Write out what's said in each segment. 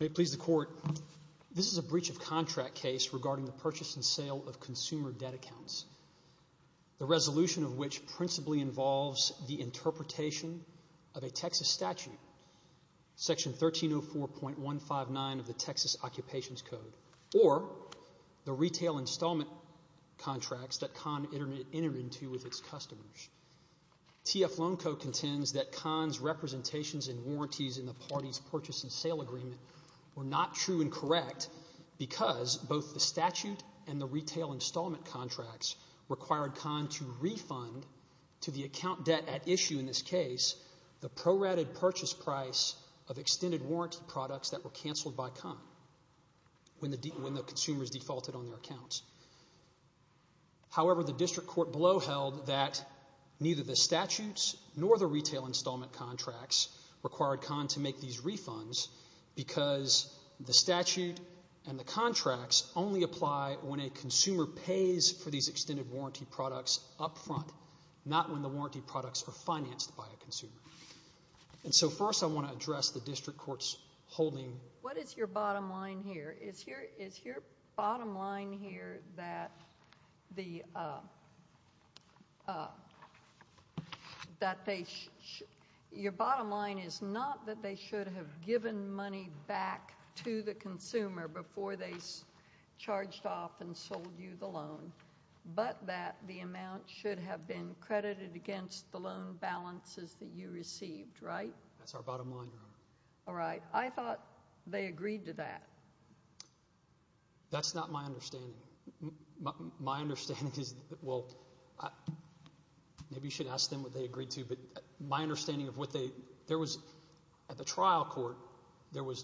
May it please the Court, this is a breach of contract case regarding the purchase and sale agreement, the resolution of which principally involves the interpretation of a Texas statute, section 1304.159 of the Texas Occupations Code, or the retail installment contracts that CON entered into with its customers. TF Loan Code contends that CON's representations and warranties in the party's purchase and sale agreement were not true and correct because both the statute and the retail installment contracts required CON to refund to the account debt at issue in this case the prorated purchase price of extended warranty products that were canceled by CON when the consumers defaulted on their accounts. However, the District Court below held that neither the statutes nor the retail installment contracts required CON to make these refunds because the statute and the contracts only apply when a consumer pays for these extended warranty products up front, not when the warranty products are financed by a consumer. And so first I want to address the District Court's holding. What is your bottom line here? Is your bottom line here that your bottom line is not that they should have given money back to the consumer before they charged off and sold you the loan, but that the amount should have been credited against the loan balances that you received, right? That's our bottom line, Your Honor. All right. I thought they agreed to that. That's not my understanding. My understanding is that, well, maybe you should ask them what they agreed to, but my understanding is that there was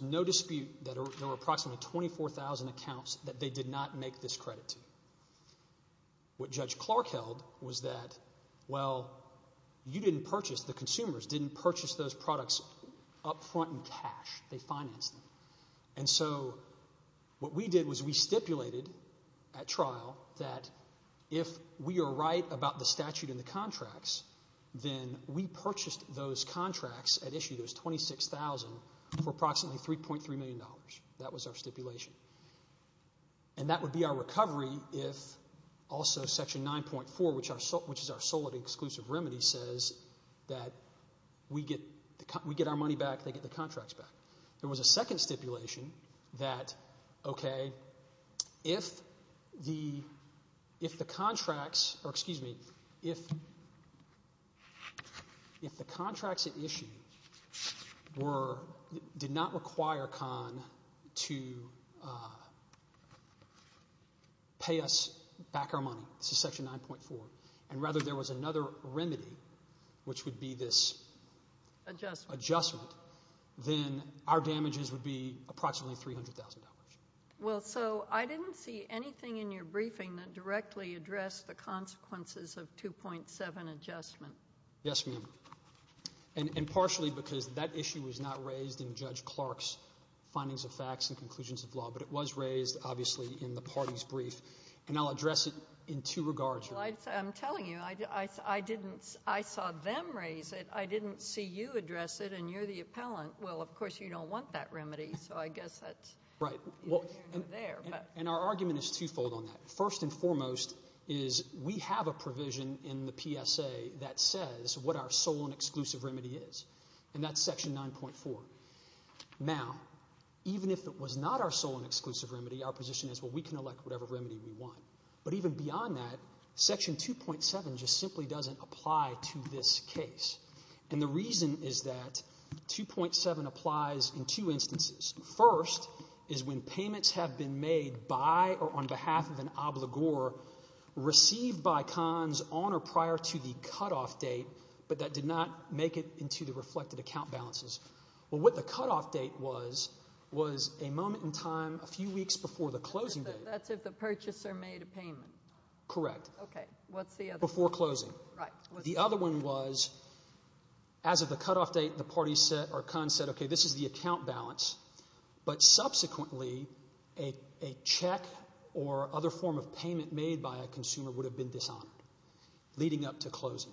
no dispute that there were approximately 24,000 accounts that they did not make this credit to. What Judge Clark held was that, well, you didn't purchase, the consumers didn't purchase those products up front in cash, they financed them. And so what we did was we stipulated at trial that if we are right about the statute and the contracts, then we purchased those contracts at issue, those 26,000 for approximately $3.3 million. That was our stipulation. And that would be our recovery if also Section 9.4, which is our sole and exclusive remedy, says that we get our money back, they get the contracts back. There was a second stipulation that, okay, if the contracts, or excuse me, if the contracts at issue did not require Kahn to pay us back our money, this is Section 9.4, and rather there was another remedy, which would be this adjustment, then our damages would be approximately $300,000. Well, so I didn't see anything in your briefing that directly addressed the consequences of 2.7 adjustment. Yes, ma'am. And partially because that issue was not raised in Judge Clark's findings of facts and conclusions of law, but it was raised, obviously, in the party's brief, and I'll address it in two regards. Well, I'm telling you, I saw them raise it, I didn't see you address it, and you're the appellant. Well, of course, you don't want that remedy, so I guess that's... And our argument is twofold on that. First and foremost is we have a provision in the PSA that says what our sole and exclusive remedy is, and that's Section 9.4. Now even if it was not our sole and exclusive remedy, our position is, well, we can elect whatever remedy we want. But even beyond that, Section 2.7 just simply doesn't apply to this case. And the reason is that 2.7 applies in two instances. First is when payments have been made by or on behalf of an obligor received by cons on or prior to the cutoff date, but that did not make it into the reflected account balances. Well, what the cutoff date was was a moment in time a few weeks before the closing date. So that's if the purchaser made a payment? Correct. Okay. What's the other one? Before closing. Right. The other one was as of the cutoff date, the parties said, or cons said, okay, this is the account balance, but subsequently a check or other form of payment made by a consumer would have been dishonored leading up to closing.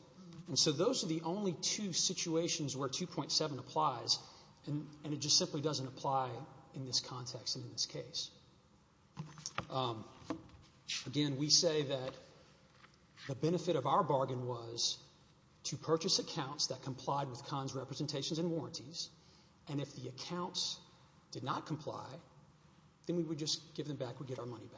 And so those are the only two situations where 2.7 applies, and it just simply doesn't apply in this context and in this case. Again, we say that the benefit of our bargain was to purchase accounts that complied with cons representations and warranties, and if the accounts did not comply, then we would just give them back, we'd get our money back.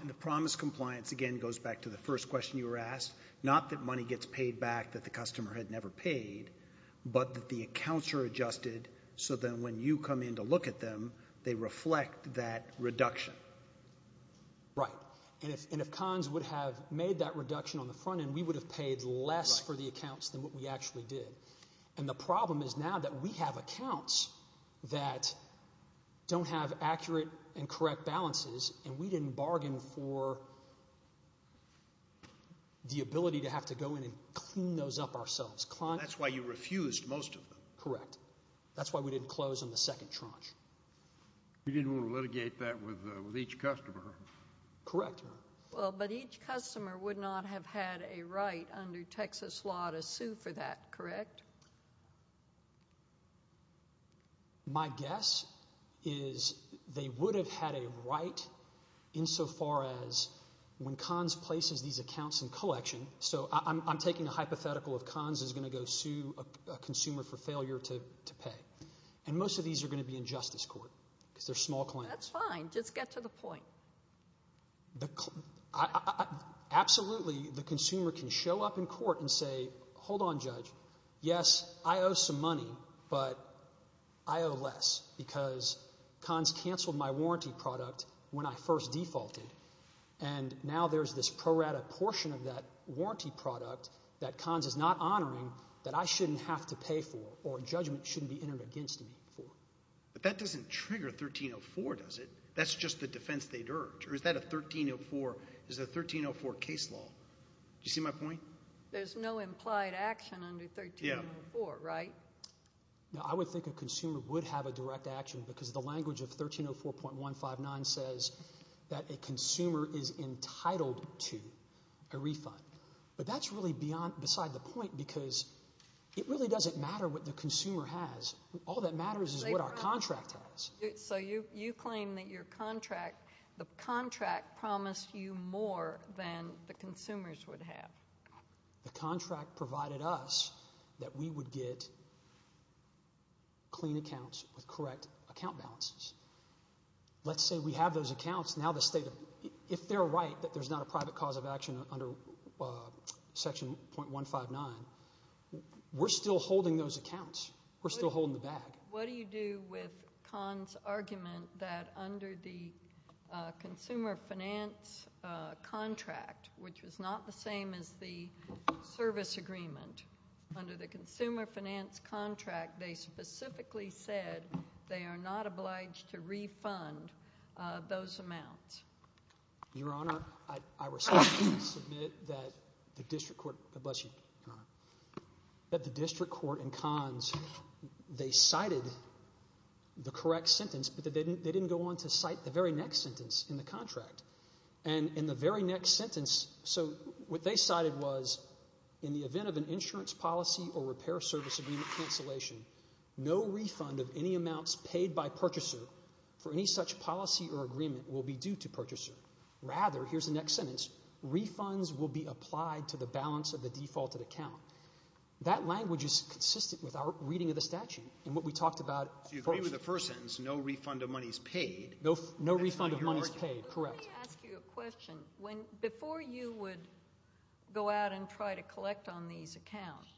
And the promise compliance, again, goes back to the first question you were asked, not that money gets paid back that the customer had never paid, but that the accounts are and to look at them, they reflect that reduction. Right. And if cons would have made that reduction on the front end, we would have paid less for the accounts than what we actually did. And the problem is now that we have accounts that don't have accurate and correct balances and we didn't bargain for the ability to have to go in and clean those up ourselves. That's why you refused most of them. Correct. That's why we didn't close on the second tranche. You didn't want to litigate that with each customer. Correct. Well, but each customer would not have had a right under Texas law to sue for that, correct? My guess is they would have had a right insofar as when cons places these accounts in collection, so I'm taking a hypothetical of cons is going to go sue a consumer for failure to pay. And most of these are going to be in justice court because they're small claims. That's fine. Just get to the point. Absolutely. The consumer can show up in court and say, hold on, Judge, yes, I owe some money, but I owe less because cons canceled my warranty product when I first defaulted. And now there's this pro rata portion of that warranty product that cons is not honoring that I shouldn't have to pay for or a judgment shouldn't be entered against me for. But that doesn't trigger 1304, does it? That's just the defense they'd urge, or is that a 1304, is that a 1304 case law? Do you see my point? There's no implied action under 1304, right? Yeah. I would think a consumer would have a direct action because the language of 1304.159 says that a consumer is entitled to a refund. But that's really beside the point because it really doesn't matter what the consumer has. All that matters is what our contract has. So you claim that your contract, the contract promised you more than the consumers would have. The contract provided us that we would get clean accounts with correct account balances. Let's say we have those accounts. Now the state, if they're right that there's not a private cause of action under section .159, we're still holding those accounts. We're still holding the bag. What do you do with cons' argument that under the consumer finance contract, which was not the same as the service agreement, under the consumer finance contract they specifically said they are not obliged to refund those amounts? Your Honor, I respectfully submit that the district court in cons, they cited the correct sentence but they didn't go on to cite the very next sentence in the contract. And in the very next sentence, so what they cited was in the event of an insurance policy or repair service agreement cancellation, no refund of any amounts paid by purchaser for any such policy or agreement will be due to purchaser. Rather, here's the next sentence, refunds will be applied to the balance of the defaulted account. That language is consistent with our reading of the statute and what we talked about. So you agree with the first sentence, no refund of money is paid. No refund of money is paid, correct. Let me ask you a question. Before you would go out and try to collect on these accounts,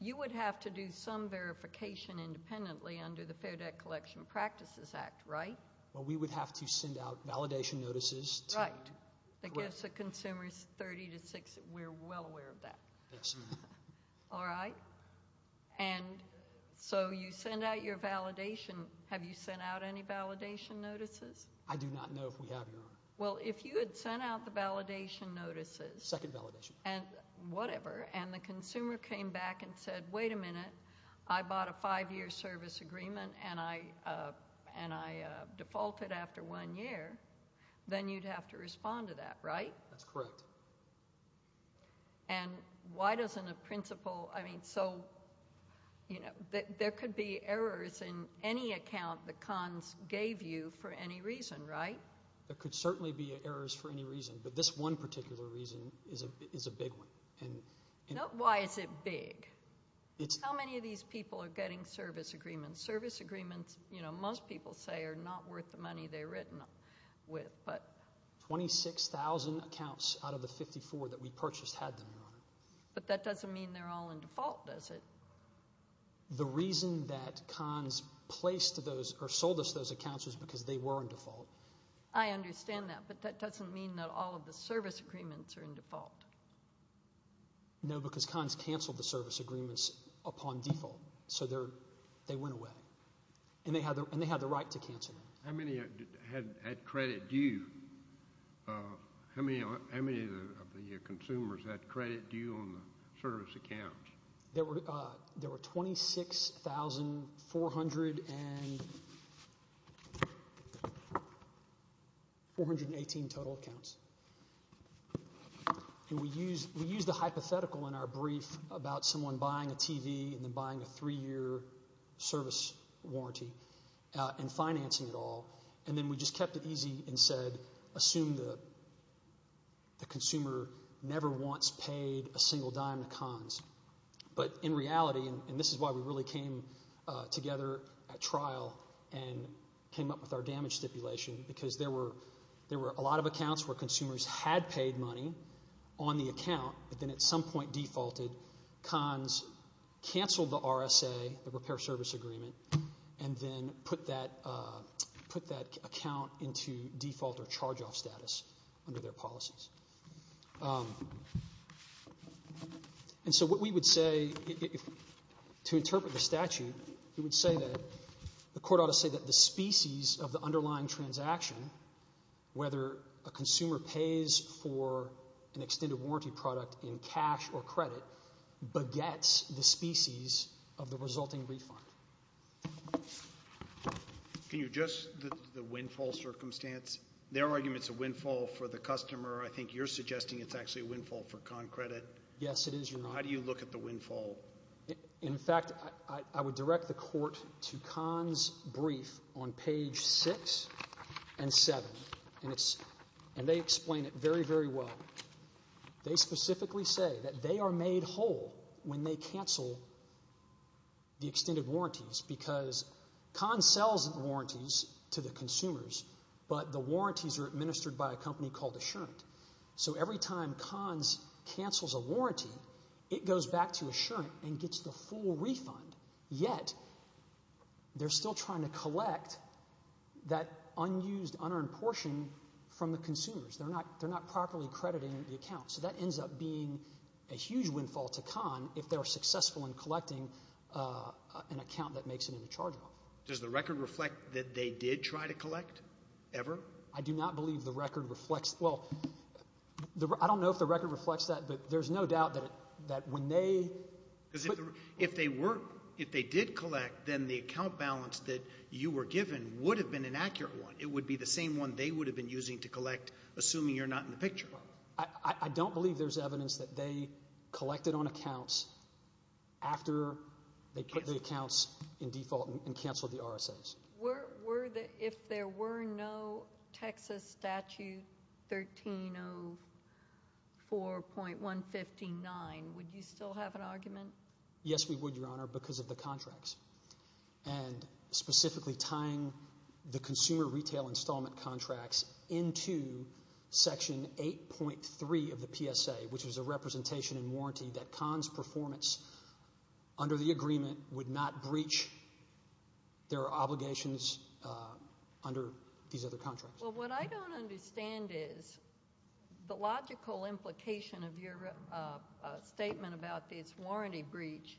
you would have to do some verification independently under the Fair Debt Collection Practices Act, right? Well, we would have to send out validation notices. Right. That gives the consumers 30 to 60, we're well aware of that. Yes. All right. And so you send out your validation, have you sent out any validation notices? I do not know if we have, Your Honor. Well, if you had sent out the validation notices. Second validation. And whatever, and the consumer came back and said, wait a minute, I bought a five-year service agreement and I defaulted after one year, then you'd have to respond to that, right? That's correct. And why doesn't a principal, I mean, so, you know, there could be errors in any account the cons gave you for any reason, right? There could certainly be errors for any reason, but this one particular reason is a big one. Why is it big? How many of these people are getting service agreements? Service agreements, you know, most people say are not worth the money they're written with, but. 26,000 accounts out of the 54 that we purchased had them, Your Honor. But that doesn't mean they're all in default, does it? The reason that cons placed those or sold us those accounts was because they were in default. I understand that, but that doesn't mean that all of the service agreements are in default. No, because cons canceled the service agreements upon default, so they went away. And they had the right to cancel them. How many had credit due? How many of the consumers had credit due on the service accounts? There were 26,418 total accounts. And we used a hypothetical in our brief about someone buying a TV and then buying a three-year service warranty and financing it all. And then we just kept it easy and said, assume the consumer never once paid a single dime to cons. But in reality, and this is why we really came together at trial and came up with our damage stipulation, because there were a lot of accounts where consumers had paid money on the account, but then at some point defaulted. Cons canceled the RSA, the Repair Service Agreement, and then put that account into default or charge-off status under their policies. And so what we would say, to interpret the statute, we would say that the court ought to say that the species of the underlying transaction, whether a consumer pays for an extended warranty product in cash or credit, begets the species of the resulting refund. Can you address the windfall circumstance? Their argument is a windfall for the customer. I think you're suggesting it's actually a windfall for con credit. Yes, it is, Your Honor. How do you look at the windfall? In fact, I would direct the court to cons' brief on page 6 and 7. And they explain it very, very well. They specifically say that they are made whole when they cancel the extended warranties, because cons sells warranties to the consumers, but the warranties are administered by a company called Assurant. So every time cons cancels a warranty, it goes back to Assurant and gets the full refund, yet they're still trying to collect that unused, unearned portion from the consumers. They're not properly crediting the account. So that ends up being a huge windfall to con if they're successful in collecting an account that makes it in the charge book. Does the record reflect that they did try to collect, ever? I do not believe the record reflects—well, I don't know if the record reflects that, but there's no doubt that when they— If they did collect, then the account balance that you were given would have been an accurate one. But it would be the same one they would have been using to collect, assuming you're not in the picture. I don't believe there's evidence that they collected on accounts after they put the accounts in default and canceled the RSAs. If there were no Texas Statute 1304.159, would you still have an argument? Yes, we would, Your Honor, because of the contracts. And specifically tying the consumer retail installment contracts into Section 8.3 of the PSA, which is a representation and warranty that con's performance under the agreement would not breach their obligations under these other contracts. Well, what I don't understand is the logical implication of your statement about this warranty breach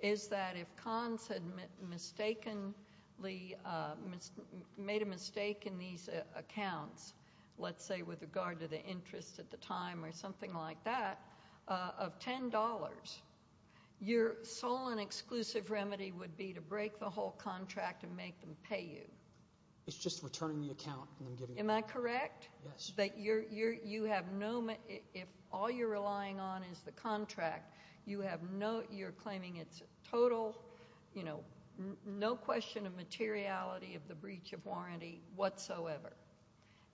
is that if con's had mistakenly—made a mistake in these accounts, let's say with regard to the interest at the time or something like that, of $10, your sole and exclusive remedy would be to break the whole contract and make them pay you. It's just returning the account and then giving it back. Am I correct? Yes. So, what you're saying is that you have no—if all you're relying on is the contract, you have no—you're claiming it's total, you know, no question of materiality of the breach of warranty whatsoever.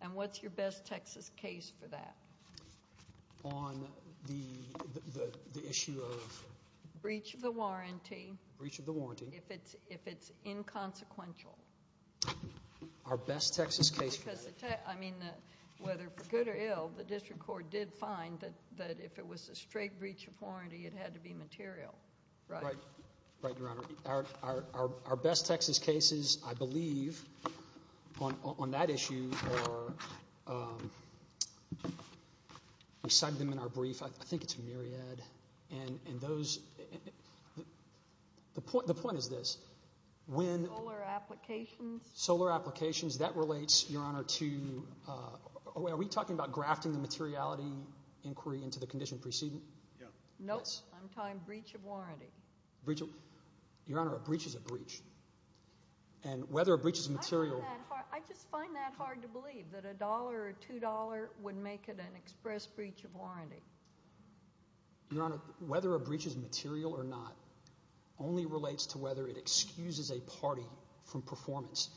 And what's your best Texas case for that? On the issue of— Breach of the warranty. Breach of the warranty. If it's inconsequential. Our best Texas case for that. I mean, whether for good or ill, the district court did find that if it was a straight breach of warranty, it had to be material, right? Right, Your Honor. Our best Texas cases, I believe, on that issue are—we cite them in our brief. I think it's Myriad, and those—the point is this. Solar applications? Solar applications. That relates, Your Honor, to—are we talking about grafting the materiality inquiry into the condition preceding? Yes. Nope. I'm talking breach of warranty. Breach of—Your Honor, a breach is a breach. And whether a breach is material— I just find that hard to believe, that $1 or $2 would make it an express breach of warranty. Your Honor, whether a breach is material or not only relates to whether it excuses a party from performance.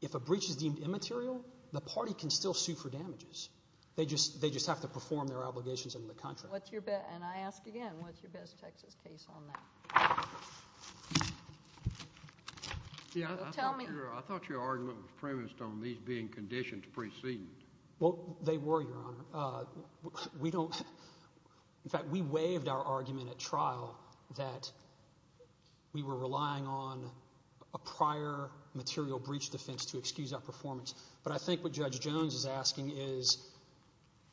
If a breach is deemed immaterial, the party can still sue for damages. They just have to perform their obligations under the contract. What's your best—and I ask again, what's your best Texas case on that? Tell me. I thought your argument was premised on these being conditions preceding. Well, they were, Your Honor. We don't—in fact, we waived our argument at trial that we were relying on a prior material breach defense to excuse our performance. But I think what Judge Jones is asking is,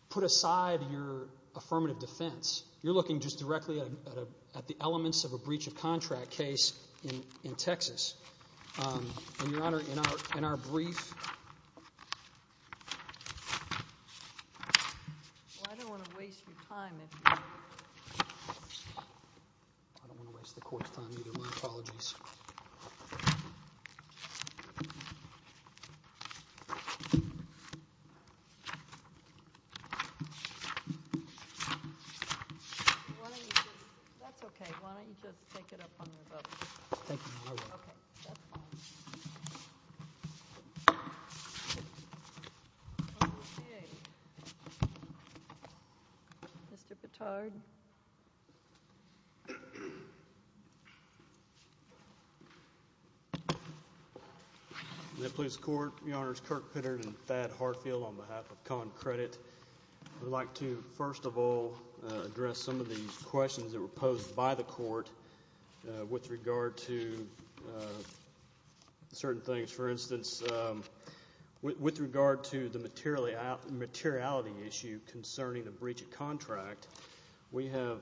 put aside your affirmative defense. You're looking just directly at the elements of a breach of contract case in Texas. And, Your Honor, in our brief— Well, I don't want to waste your time. I don't want to waste the Court's time either. My apologies. Why don't you just—that's okay. Why don't you just take it up on your vote? Thank you, Your Honor. Okay. That's fine. Okay. Mr. Pitard. In the police court, Your Honors, Kirk Pitter and Thad Hartfield on behalf of ConCredit. I'd like to, first of all, address some of the questions that were posed by the Court with regard to certain things. For instance, with regard to the materiality issue concerning the breach of contract, we have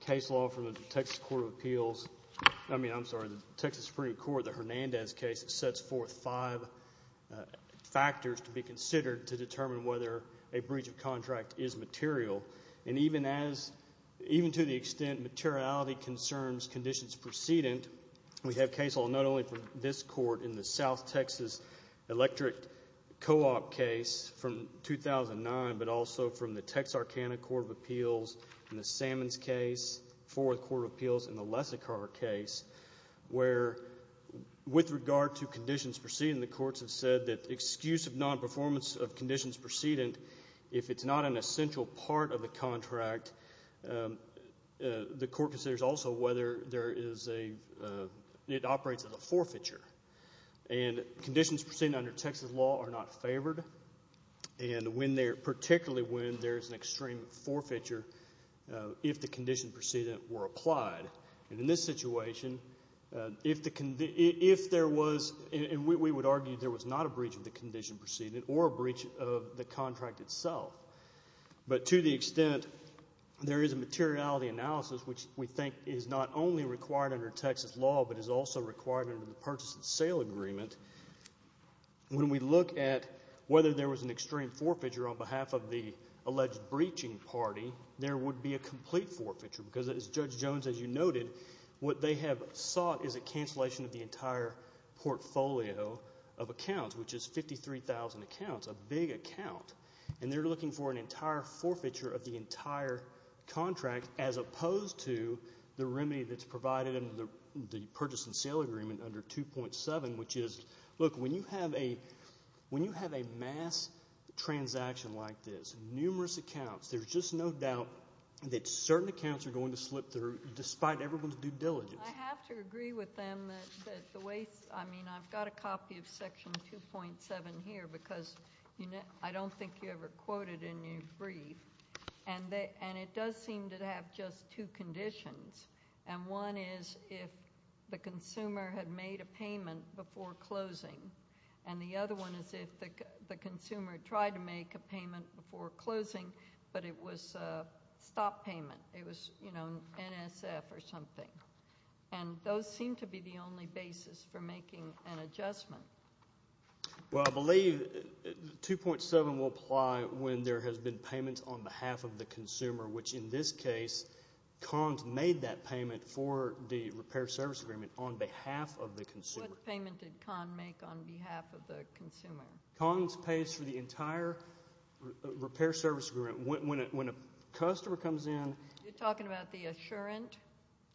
case law from the Texas Supreme Court, the Hernandez case, that sets forth five factors to be considered to determine whether a breach of contract is material. And even as—even to the extent materiality concerns conditions precedent, we have case law not only from this Court in the South Texas Electric Co-op case from 2009, but also from the Texarkana Court of Appeals in the Sammons case, Fourth Court of Appeals in the Lessicar case, where with regard to conditions preceding the courts have said that excuse of non-performance of conditions precedent, if it's not an essential part of the contract, the Court considers also whether there is a—it operates as a forfeiture. And conditions precedent under Texas law are not favored, and when they're—particularly when there's an extreme forfeiture, if the conditions precedent were applied. And in this situation, if there was—and we would argue there was not a breach of the condition precedent or a breach of the contract itself. But to the extent there is a materiality analysis, which we think is not only required under Texas law but is also required under the purchase and sale agreement, when we look at whether there was an extreme forfeiture on behalf of the alleged breaching party, there would be a complete forfeiture. Because as Judge Jones, as you noted, what they have sought is a cancellation of the entire portfolio of accounts, which is 53,000 accounts, a big account. And they're looking for an entire forfeiture of the entire contract as opposed to the remedy that's provided under the purchase and sale agreement under 2.7, which is, look, when you have a—when you have a mass transaction like this, numerous accounts, there's just no doubt that certain accounts are going to slip through despite everyone's due diligence. I have to agree with them that the way—I mean, I've got a copy of Section 2.7 here because I don't think you ever quote it in your brief. And it does seem to have just two conditions. And one is if the consumer had made a payment before closing. And the other one is if the consumer tried to make a payment before closing, but it was a stop payment. It was, you know, NSF or something. And those seem to be the only basis for making an adjustment. Well, I believe 2.7 will apply when there has been payment on behalf of the consumer, which in this case, CONS made that payment for the repair service agreement on behalf of the consumer. What payment did CONS make on behalf of the consumer? CONS pays for the entire repair service agreement. When a customer comes in— You're talking about the Assurant?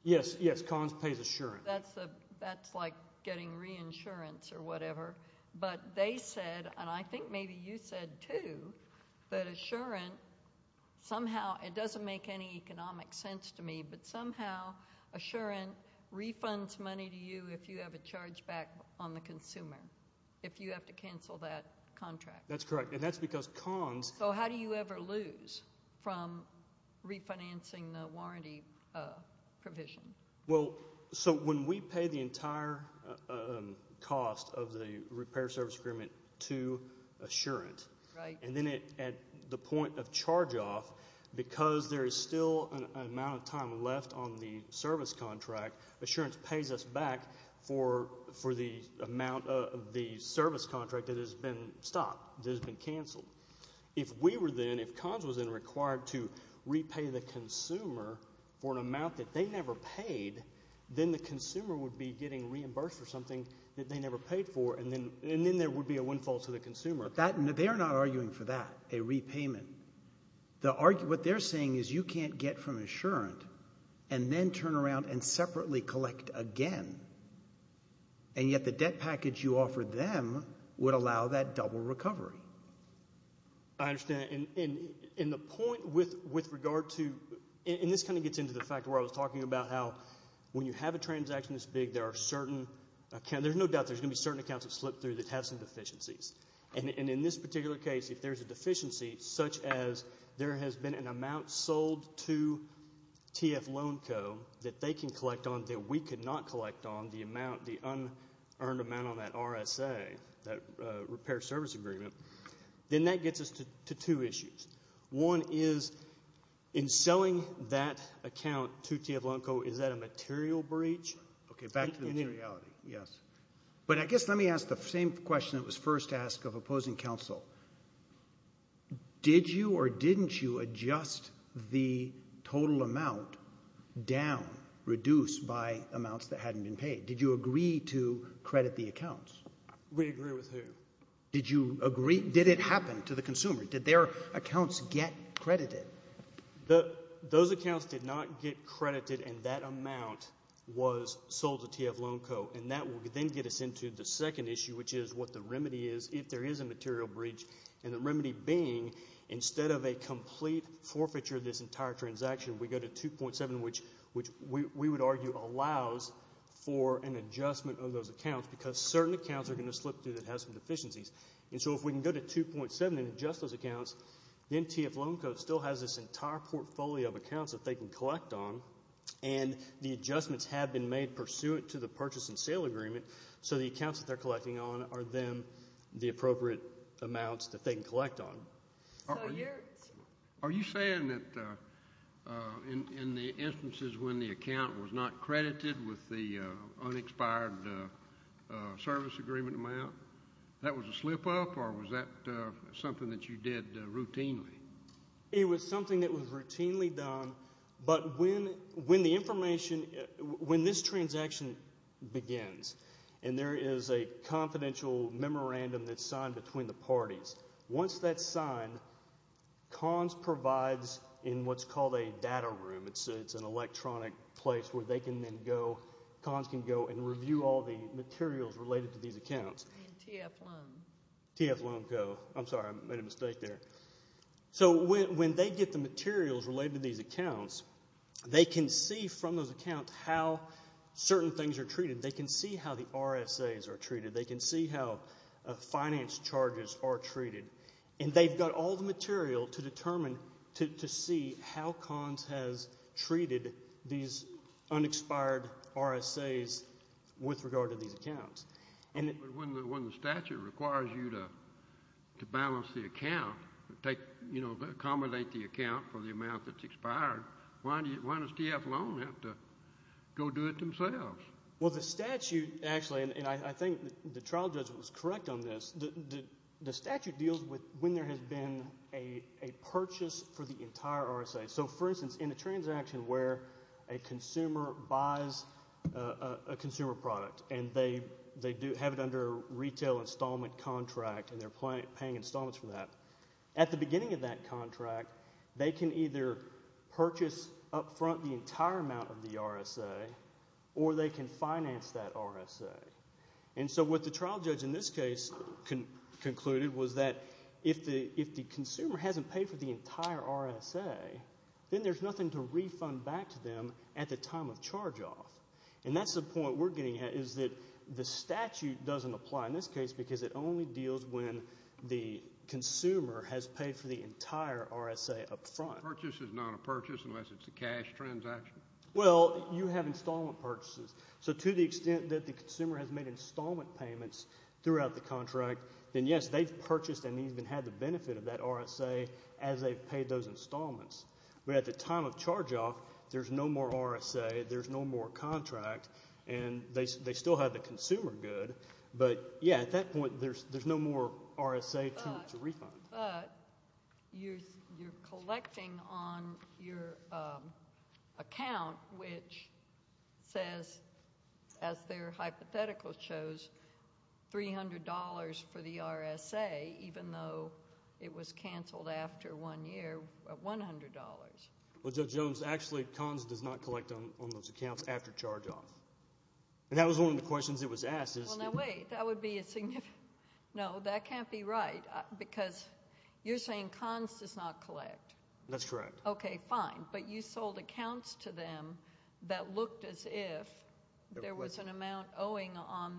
Yes, yes, CONS pays Assurant. That's like getting reinsurance or whatever. But they said, and I think maybe you said too, that Assurant somehow—it doesn't make any economic sense to me, but somehow Assurant refunds money to you if you have a charge back on the consumer if you have to cancel that contract. That's correct. And that's because CONS— So how do you ever lose from refinancing the warranty provision? Well, so when we pay the entire cost of the repair service agreement to Assurant, and then at the point of charge-off, because there is still an amount of time left on the service contract, Assurant pays us back for the amount of the service contract that has been stopped, that has been canceled. If we were then, if CONS was then required to repay the consumer for an amount that they never paid, then the consumer would be getting reimbursed for something that they never paid for, and then there would be a windfall to the consumer. But they are not arguing for that, a repayment. What they're saying is you can't get from Assurant and then turn around and separately collect again, and yet the debt package you offered them would allow that double recovery. I understand. And the point with regard to—and this kind of gets into the fact where I was talking about how when you have a transaction this big, there are certain—there's no doubt there's going to be certain accounts that slip through that have some deficiencies. And in this particular case, if there's a deficiency, such as there has been an amount sold to TF Loan Co. that they can collect on that we could not collect on, the amount, the unearned amount on that RSA, that repair service agreement, then that gets us to two issues. One is in selling that account to TF Loan Co., is that a material breach? Okay. Back to the materiality. Yes. But I guess let me ask the same question that was first asked of opposing counsel. Did you or didn't you adjust the total amount down, reduced by amounts that hadn't been paid? Did you agree to credit the accounts? We agree with who? Did you agree—did it happen to the consumer? Did their accounts get credited? Those accounts did not get credited, and that amount was sold to TF Loan Co., and that will then get us into the second issue, which is what the remedy is if there is a material breach. And the remedy being, instead of a complete forfeiture of this entire transaction, we go to 2.7, which we would argue allows for an adjustment of those accounts, because certain accounts are going to slip through that have some deficiencies. And so if we can go to 2.7 and adjust those accounts, then TF Loan Co. still has this entire portfolio of accounts that they can collect on, and the adjustments have been made pursuant to the purchase and sale agreement, so the accounts that they're collecting on are then the appropriate amounts that they can collect on. So you're— Are you saying that in the instances when the account was not credited with the unexpired service agreement amount, that was a slip-up, or was that something that you did routinely? It was something that was routinely done, but when the information—when this transaction begins and there is a confidential memorandum that's signed between the parties, once that's signed, CONS provides in what's called a data room. It's an electronic place where they can then go—CONS can go and review all the materials related to these accounts. And TF Loan. TF Loan Co. I'm sorry, I made a mistake there. So when they get the materials related to these accounts, they can see from those accounts how certain things are treated. They can see how the RSAs are treated. They can see how finance charges are treated. And they've got all the material to determine—to see how CONS has treated these unexpired RSAs with regard to these accounts. But when the statute requires you to balance the account, accommodate the account for the amount that's expired, why does TF Loan have to go do it themselves? Well, the statute actually—and I think the trial judge was correct on this—the statute deals with when there has been a purchase for the entire RSA. So, for instance, in a transaction where a consumer buys a consumer product and they have it under a retail installment contract and they're paying installments for that, at the beginning of that contract, they can either purchase up front the entire amount of the RSA or they can finance that RSA. And so what the trial judge in this case concluded was that if the consumer hasn't paid for the entire RSA, then there's nothing to refund back to them at the time of charge-off. And that's the point we're getting at, is that the statute doesn't apply in this case because it only deals when the consumer has paid for the entire RSA up front. Purchase is not a purchase unless it's a cash transaction. Well, you have installment purchases. So to the extent that the consumer has made installment payments throughout the contract, then yes, they've purchased and even had the benefit of that RSA as they've paid those installments. But at the time of charge-off, there's no more RSA, there's no more contract, and they still have the consumer good. But yeah, at that point, there's no more RSA to refund. But you're collecting on your account, which says, as their hypothetical shows, $300 for the RSA, even though it was canceled after one year at $100. Well, Judge Jones, actually, CONS does not collect on those accounts after charge-off. And that was one of the questions that was asked. Well, now wait. That would be a significant—no, that can't be right. Because you're saying CONS does not collect. That's correct. Okay, fine. But you sold accounts to them that looked as if there was an amount owing on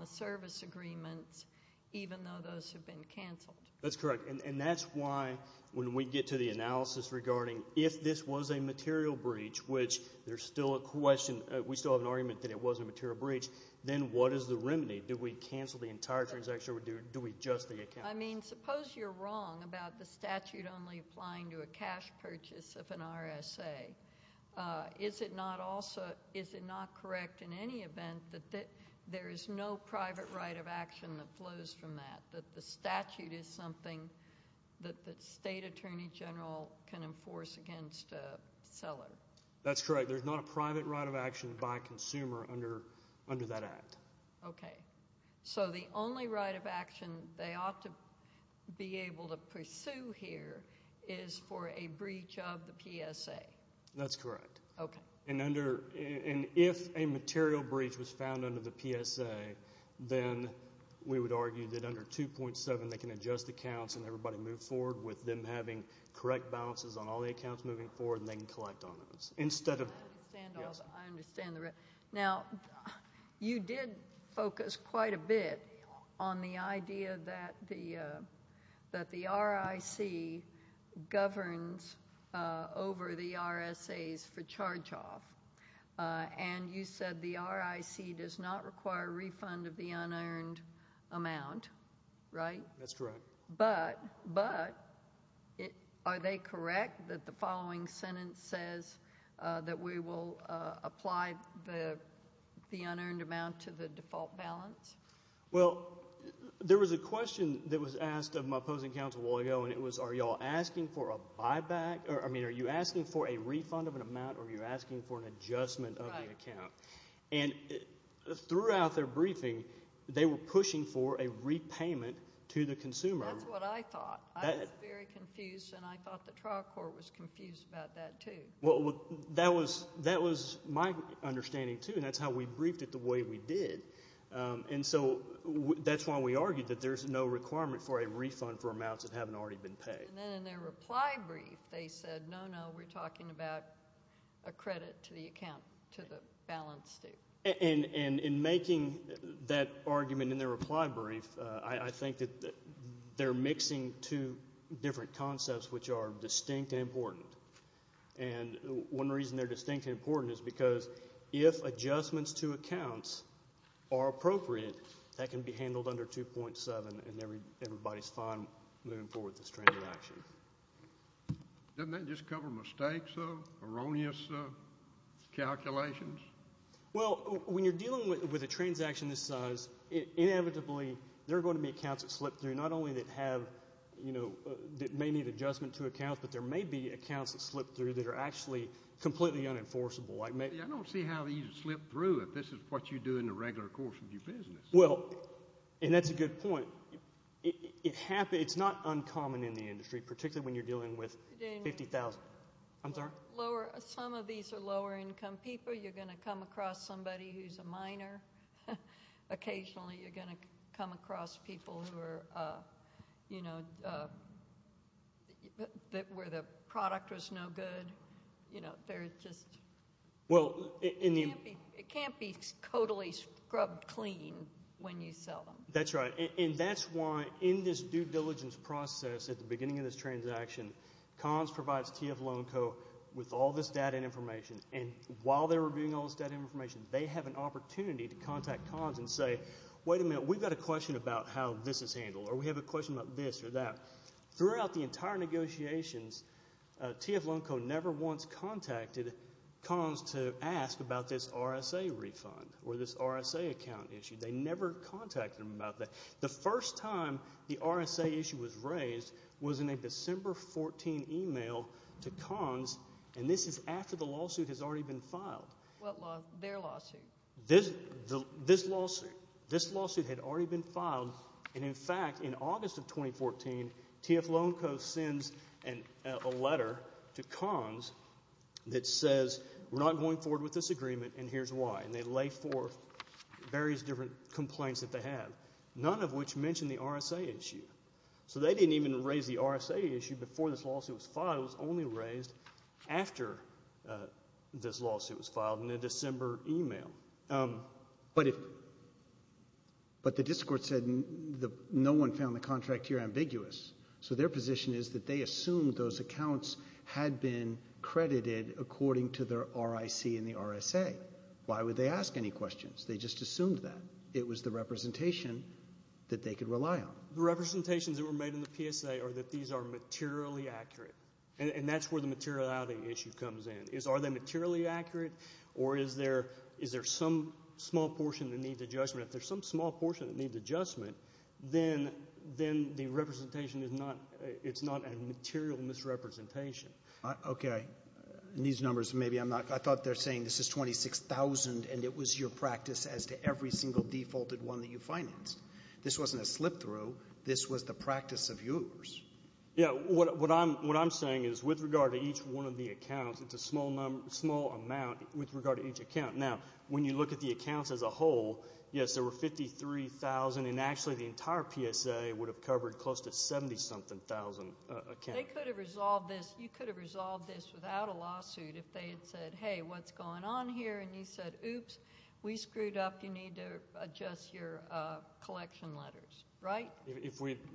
the service agreements, even though those have been canceled. That's correct. And that's why, when we get to the analysis regarding if this was a material breach, which there's still a question—we still have an argument that it was a material breach—then what is the remedy? Do we cancel the entire transaction, or do we adjust the account? I mean, suppose you're wrong about the statute only applying to a cash purchase of an RSA. Is it not correct, in any event, that there is no private right of action that flows from that, that the statute is something that the state attorney general can enforce against a seller? That's correct. There's not a private right of action by a consumer under that act. Okay. So, the only right of action they ought to be able to pursue here is for a breach of the PSA. That's correct. Okay. And if a material breach was found under the PSA, then we would argue that under 2.7, they can adjust accounts and everybody move forward with them having correct balances on all the accounts moving forward, and they can collect on those. I understand the— Yes. You did focus quite a bit on the idea that the RIC governs over the RSAs for charge-off, and you said the RIC does not require a refund of the unearned amount, right? That's correct. But are they correct that the following sentence says that we will apply the unearned amount to the default balance? Well, there was a question that was asked of my opposing counsel a while ago, and it was, are you all asking for a buyback? I mean, are you asking for a refund of an amount, or are you asking for an adjustment of the account? Right. And throughout their briefing, they were pushing for a repayment to the consumer. That's what I thought. I was very confused, and I thought the trial court was confused about that, too. Well, that was my understanding, too, and that's how we briefed it the way we did. And so that's why we argued that there's no requirement for a refund for amounts that haven't already been paid. And then in their reply brief, they said, no, no, we're talking about a credit to the balance, too. And in making that argument in their reply brief, I think that they're mixing two different concepts which are distinct and important. And one reason they're distinct and important is because if adjustments to accounts are appropriate, that can be handled under 2.7, and everybody's fine moving forward with this trend of action. Doesn't that just cover mistakes, erroneous calculations? Well, when you're dealing with a transaction this size, inevitably there are going to be accounts that slip through, not only that may need adjustment to accounts, but there may be accounts that slip through that are actually completely unenforceable. I don't see how these slip through if this is what you do in the regular course of your business. Well, and that's a good point. It's not uncommon in the industry, particularly when you're dealing with 50,000. I'm sorry? Some of these are lower income people. You're going to come across somebody who's a minor. Occasionally, you're going to come across people who are, you know, where the product was no good. You know, they're just... Well, in the... It can't be totally scrubbed clean when you sell them. That's right. And that's why in this due diligence process at the beginning of this transaction, CONS provides TF Loan Co. with all this data and information. And while they're reviewing all this data and information, they have an opportunity to contact CONS and say, wait a minute, we've got a question about how this is handled, or we have a question about this or that. Throughout the entire negotiations, TF Loan Co. never once contacted CONS to ask about this RSA refund or this RSA account issue. They never contacted them about that. The first time the RSA issue was raised was in a December 14 email to CONS, and this is after the lawsuit has already been filed. What law? Their lawsuit? This lawsuit had already been filed. And in fact, in August of 2014, TF Loan Co. sends a letter to CONS that says, we're not going forward with this agreement, and here's why. And they lay forth various different complaints that they have, none of which mention the RSA issue. So they didn't even raise the RSA issue before this lawsuit was filed. It was only raised after this lawsuit was filed in a December email. But the discord said no one found the contract here ambiguous. So their position is that they assumed those accounts had been credited according to their RIC and the RSA. Why would they ask any questions? They just assumed that. It was the representation that they could rely on. The representations that were made in the PSA are that these are materially accurate, and that's where the materiality issue comes in. Are they materially accurate, or is there some small portion that needs adjustment? If there's some small portion that needs adjustment, then the representation is not a material misrepresentation. Okay. In these numbers, I thought they're saying this is 26,000, and it was your practice as to every single defaulted one that you financed. This wasn't a slip-through. This was the practice of yours. Yeah. What I'm saying is, with regard to each one of the accounts, it's a small amount with regard to each account. Now, when you look at the accounts as a whole, yes, there were 53,000, and actually the entire PSA would have covered close to 70-something thousand accounts. They could have resolved this. You could have resolved this without a lawsuit if they had said, hey, what's going on here? And you said, oops, we screwed up. You need to adjust your collection letters, right?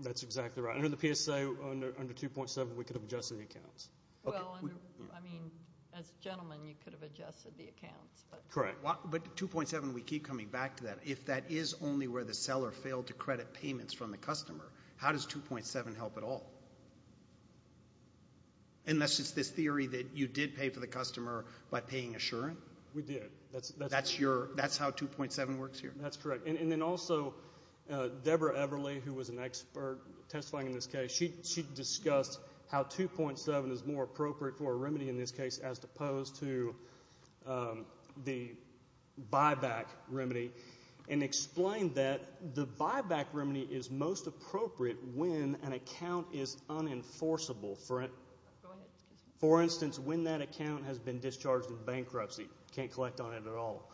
That's exactly right. Under the PSA, under 2.7, we could have adjusted the accounts. Well, I mean, as a gentleman, you could have adjusted the accounts. Correct. But 2.7, we keep coming back to that. If that is only where the seller failed to credit payments from the customer, how does 2.7 help at all? Unless it's this theory that you did pay for the customer by paying assurance? We did. That's how 2.7 works here? That's correct. And then also, Deborah Everly, who was an expert testifying in this case, she discussed how 2.7 is more appropriate for a remedy in this case as opposed to the buyback remedy and explained that the buyback remedy is most appropriate when an account is unenforceable. Go ahead. For instance, when that account has been discharged in bankruptcy, can't collect on it at all,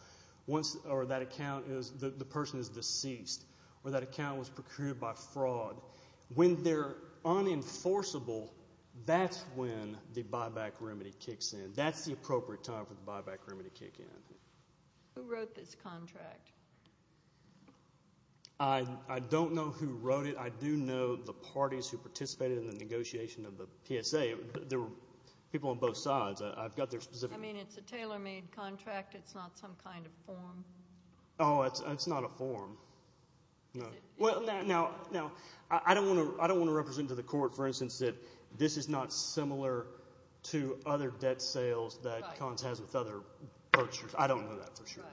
or that account is the person is deceased, or that account was procured by fraud. When they're unenforceable, that's when the buyback remedy kicks in. That's the appropriate time for the buyback remedy to kick in. Who wrote this contract? I don't know who wrote it. I do know the parties who participated in the negotiation of the PSA. There were people on both sides. I've got their specific— I mean, it's a tailor-made contract. It's not some kind of form. Oh, it's not a form. Now, I don't want to represent to the court, for instance, that this is not similar to other debt sales that Collins has with other purchasers. I don't know that for sure. Right.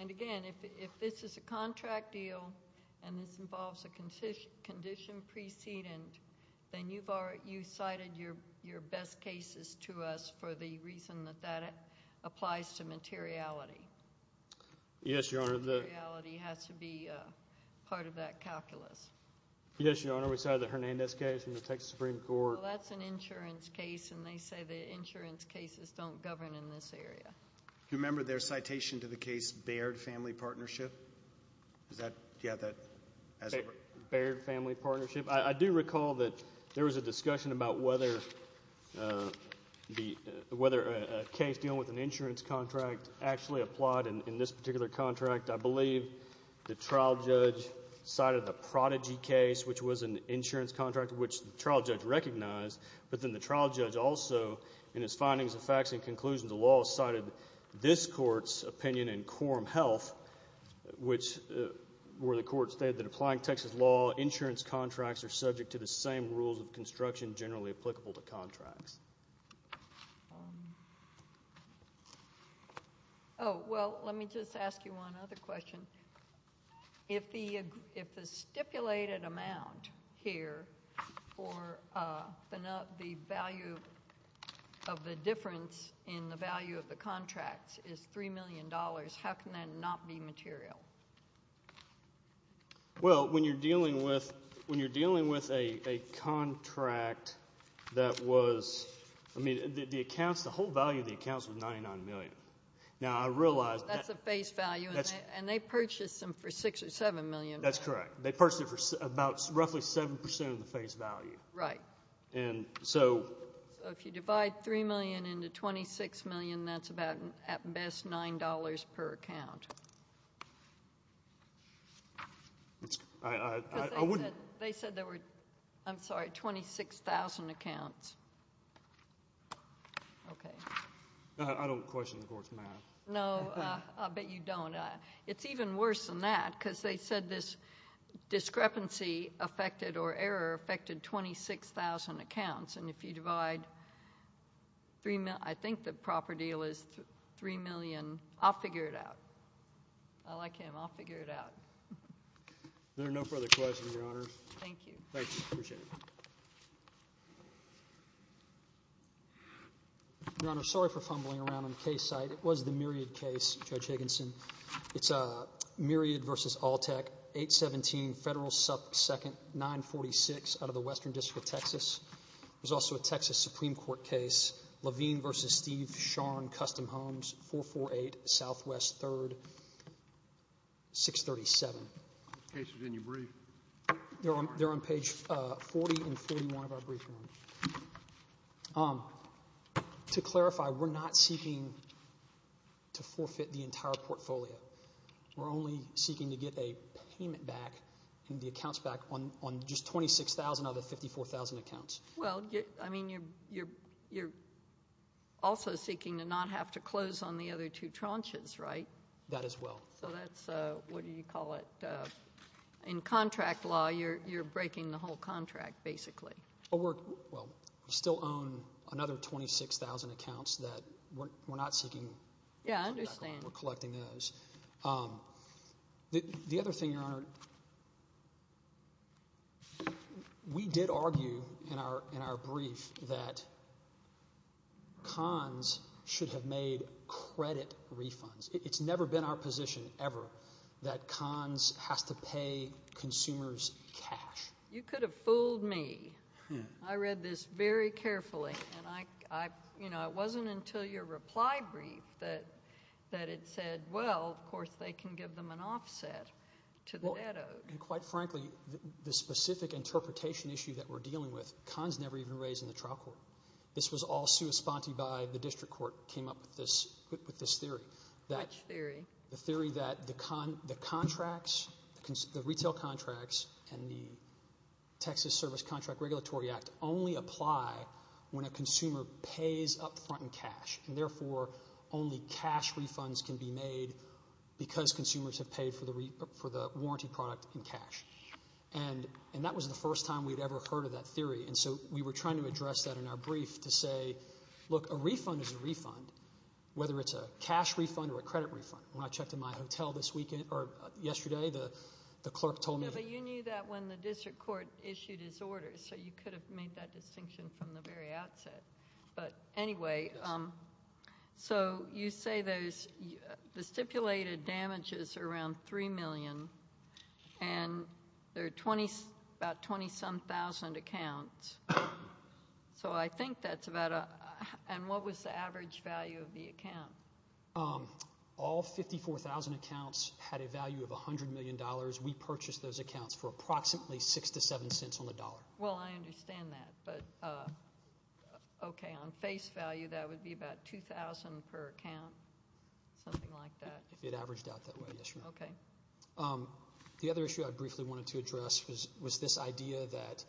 And, again, if this is a contract deal and this involves a condition precedent, then you've cited your best cases to us for the reason that that applies to materiality. Yes, Your Honor. Materiality has to be part of that calculus. Yes, Your Honor. We cited the Hernandez case from the Texas Supreme Court. Well, that's an insurance case, and they say that insurance cases don't govern in this area. Do you remember their citation to the case Baird Family Partnership? Is that—do you have that as a— Baird Family Partnership. I do recall that there was a discussion about whether a case dealing with an insurance contract actually applied in this particular contract. I believe the trial judge cited the Prodigy case, which was an insurance contract, which the trial judge recognized. But then the trial judge also, in his findings and facts and conclusions of the law, cited this Court's opinion in Quorum Health, where the Court stated that applying Texas law, insurance contracts are subject to the same rules of construction generally applicable to contracts. Oh, well, let me just ask you one other question. If the stipulated amount here for the value of the difference in the value of the contract is $3 million, how can that not be material? Well, when you're dealing with a contract that was—I mean, the accounts, the whole value of the accounts was $99 million. Now, I realize— That's the face value, and they purchased them for $6 or $7 million. That's correct. They purchased them for about roughly 7% of the face value. Right. And so— So if you divide $3 million into $26 million, that's about, at best, $9 per account. I wouldn't— Because they said there were, I'm sorry, 26,000 accounts. Okay. I don't question the Court's math. No, I'll bet you don't. It's even worse than that because they said this discrepancy affected or error affected 26,000 accounts, and if you divide—I think the proper deal is $3 million. I'll figure it out. I like him. I'll figure it out. Is there no further questions, Your Honor? Thank you. Thank you. Appreciate it. Your Honor, sorry for fumbling around on the case side. It was the Myriad case, Judge Higginson. It's Myriad v. Altec, 817 Federal 2nd, 946 out of the Western District of Texas. There's also a Texas Supreme Court case, Levine v. Steve Scharn Custom Homes, 448 Southwest 3rd, 637. Those cases are in your brief. They're on page 40 and 41 of our brief, Your Honor. To clarify, we're not seeking to forfeit the entire portfolio. We're only seeking to get a payment back and the accounts back on just 26,000 out of the 54,000 accounts. Well, I mean you're also seeking to not have to close on the other two tranches, right? That as well. So that's—what do you call it? In contract law, you're breaking the whole contract basically. Well, we still own another 26,000 accounts that we're not seeking. Yeah, I understand. We're collecting those. The other thing, Your Honor, we did argue in our brief that CONS should have made credit refunds. It's never been our position ever that CONS has to pay consumers cash. You could have fooled me. I read this very carefully, and I—you know, it wasn't until your reply brief that it said, well, of course they can give them an offset to the debt owed. And quite frankly, the specific interpretation issue that we're dealing with, CONS never even raised in the trial court. This was all sui sponte by the district court came up with this theory. Which theory? The theory that the contracts, the retail contracts, and the Texas Service Contract Regulatory Act only apply when a consumer pays up front in cash, and therefore only cash refunds can be made because consumers have paid for the warranty product in cash. And that was the first time we'd ever heard of that theory. And so we were trying to address that in our brief to say, look, a refund is a refund, whether it's a cash refund or a credit refund. When I checked in my hotel this weekend—or yesterday, the clerk told me— No, but you knew that when the district court issued his order, so you could have made that distinction from the very outset. But anyway, so you say there's—the stipulated damages are around $3 million, and there are about 20-some thousand accounts. So I think that's about—and what was the average value of the account? All 54,000 accounts had a value of $100 million. We purchased those accounts for approximately six to seven cents on the dollar. Well, I understand that, but, okay, on face value, that would be about $2,000 per account, something like that. It averaged out that way, yes, ma'am. Okay. The other issue I briefly wanted to address was this idea that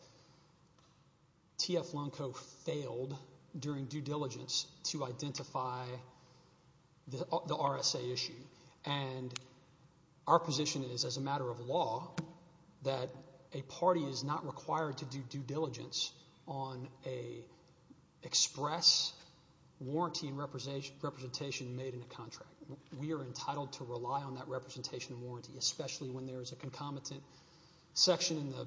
T.F. Lonecoe failed during due diligence to identify the RSA issue. And our position is, as a matter of law, that a party is not required to do due diligence on an express warranty and representation made in a contract. We are entitled to rely on that representation and warranty, especially when there is a concomitant section in the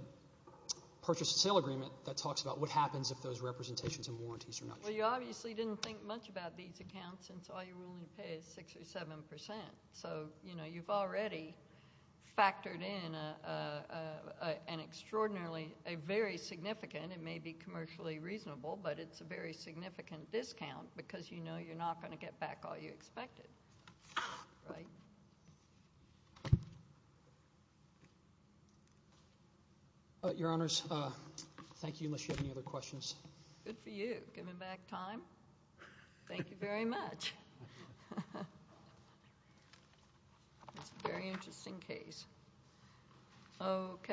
purchase and sale agreement that talks about what happens if those representations and warranties are not true. Well, you obviously didn't think much about these accounts since all you're willing to pay is six or seven percent. So you've already factored in an extraordinarily—a very significant— it may be commercially reasonable, but it's a very significant discount because you know you're not going to get back all you expected, right? Your Honors, thank you, unless you have any other questions. Good for you, giving back time. Thank you very much. It's a very interesting case. Okay.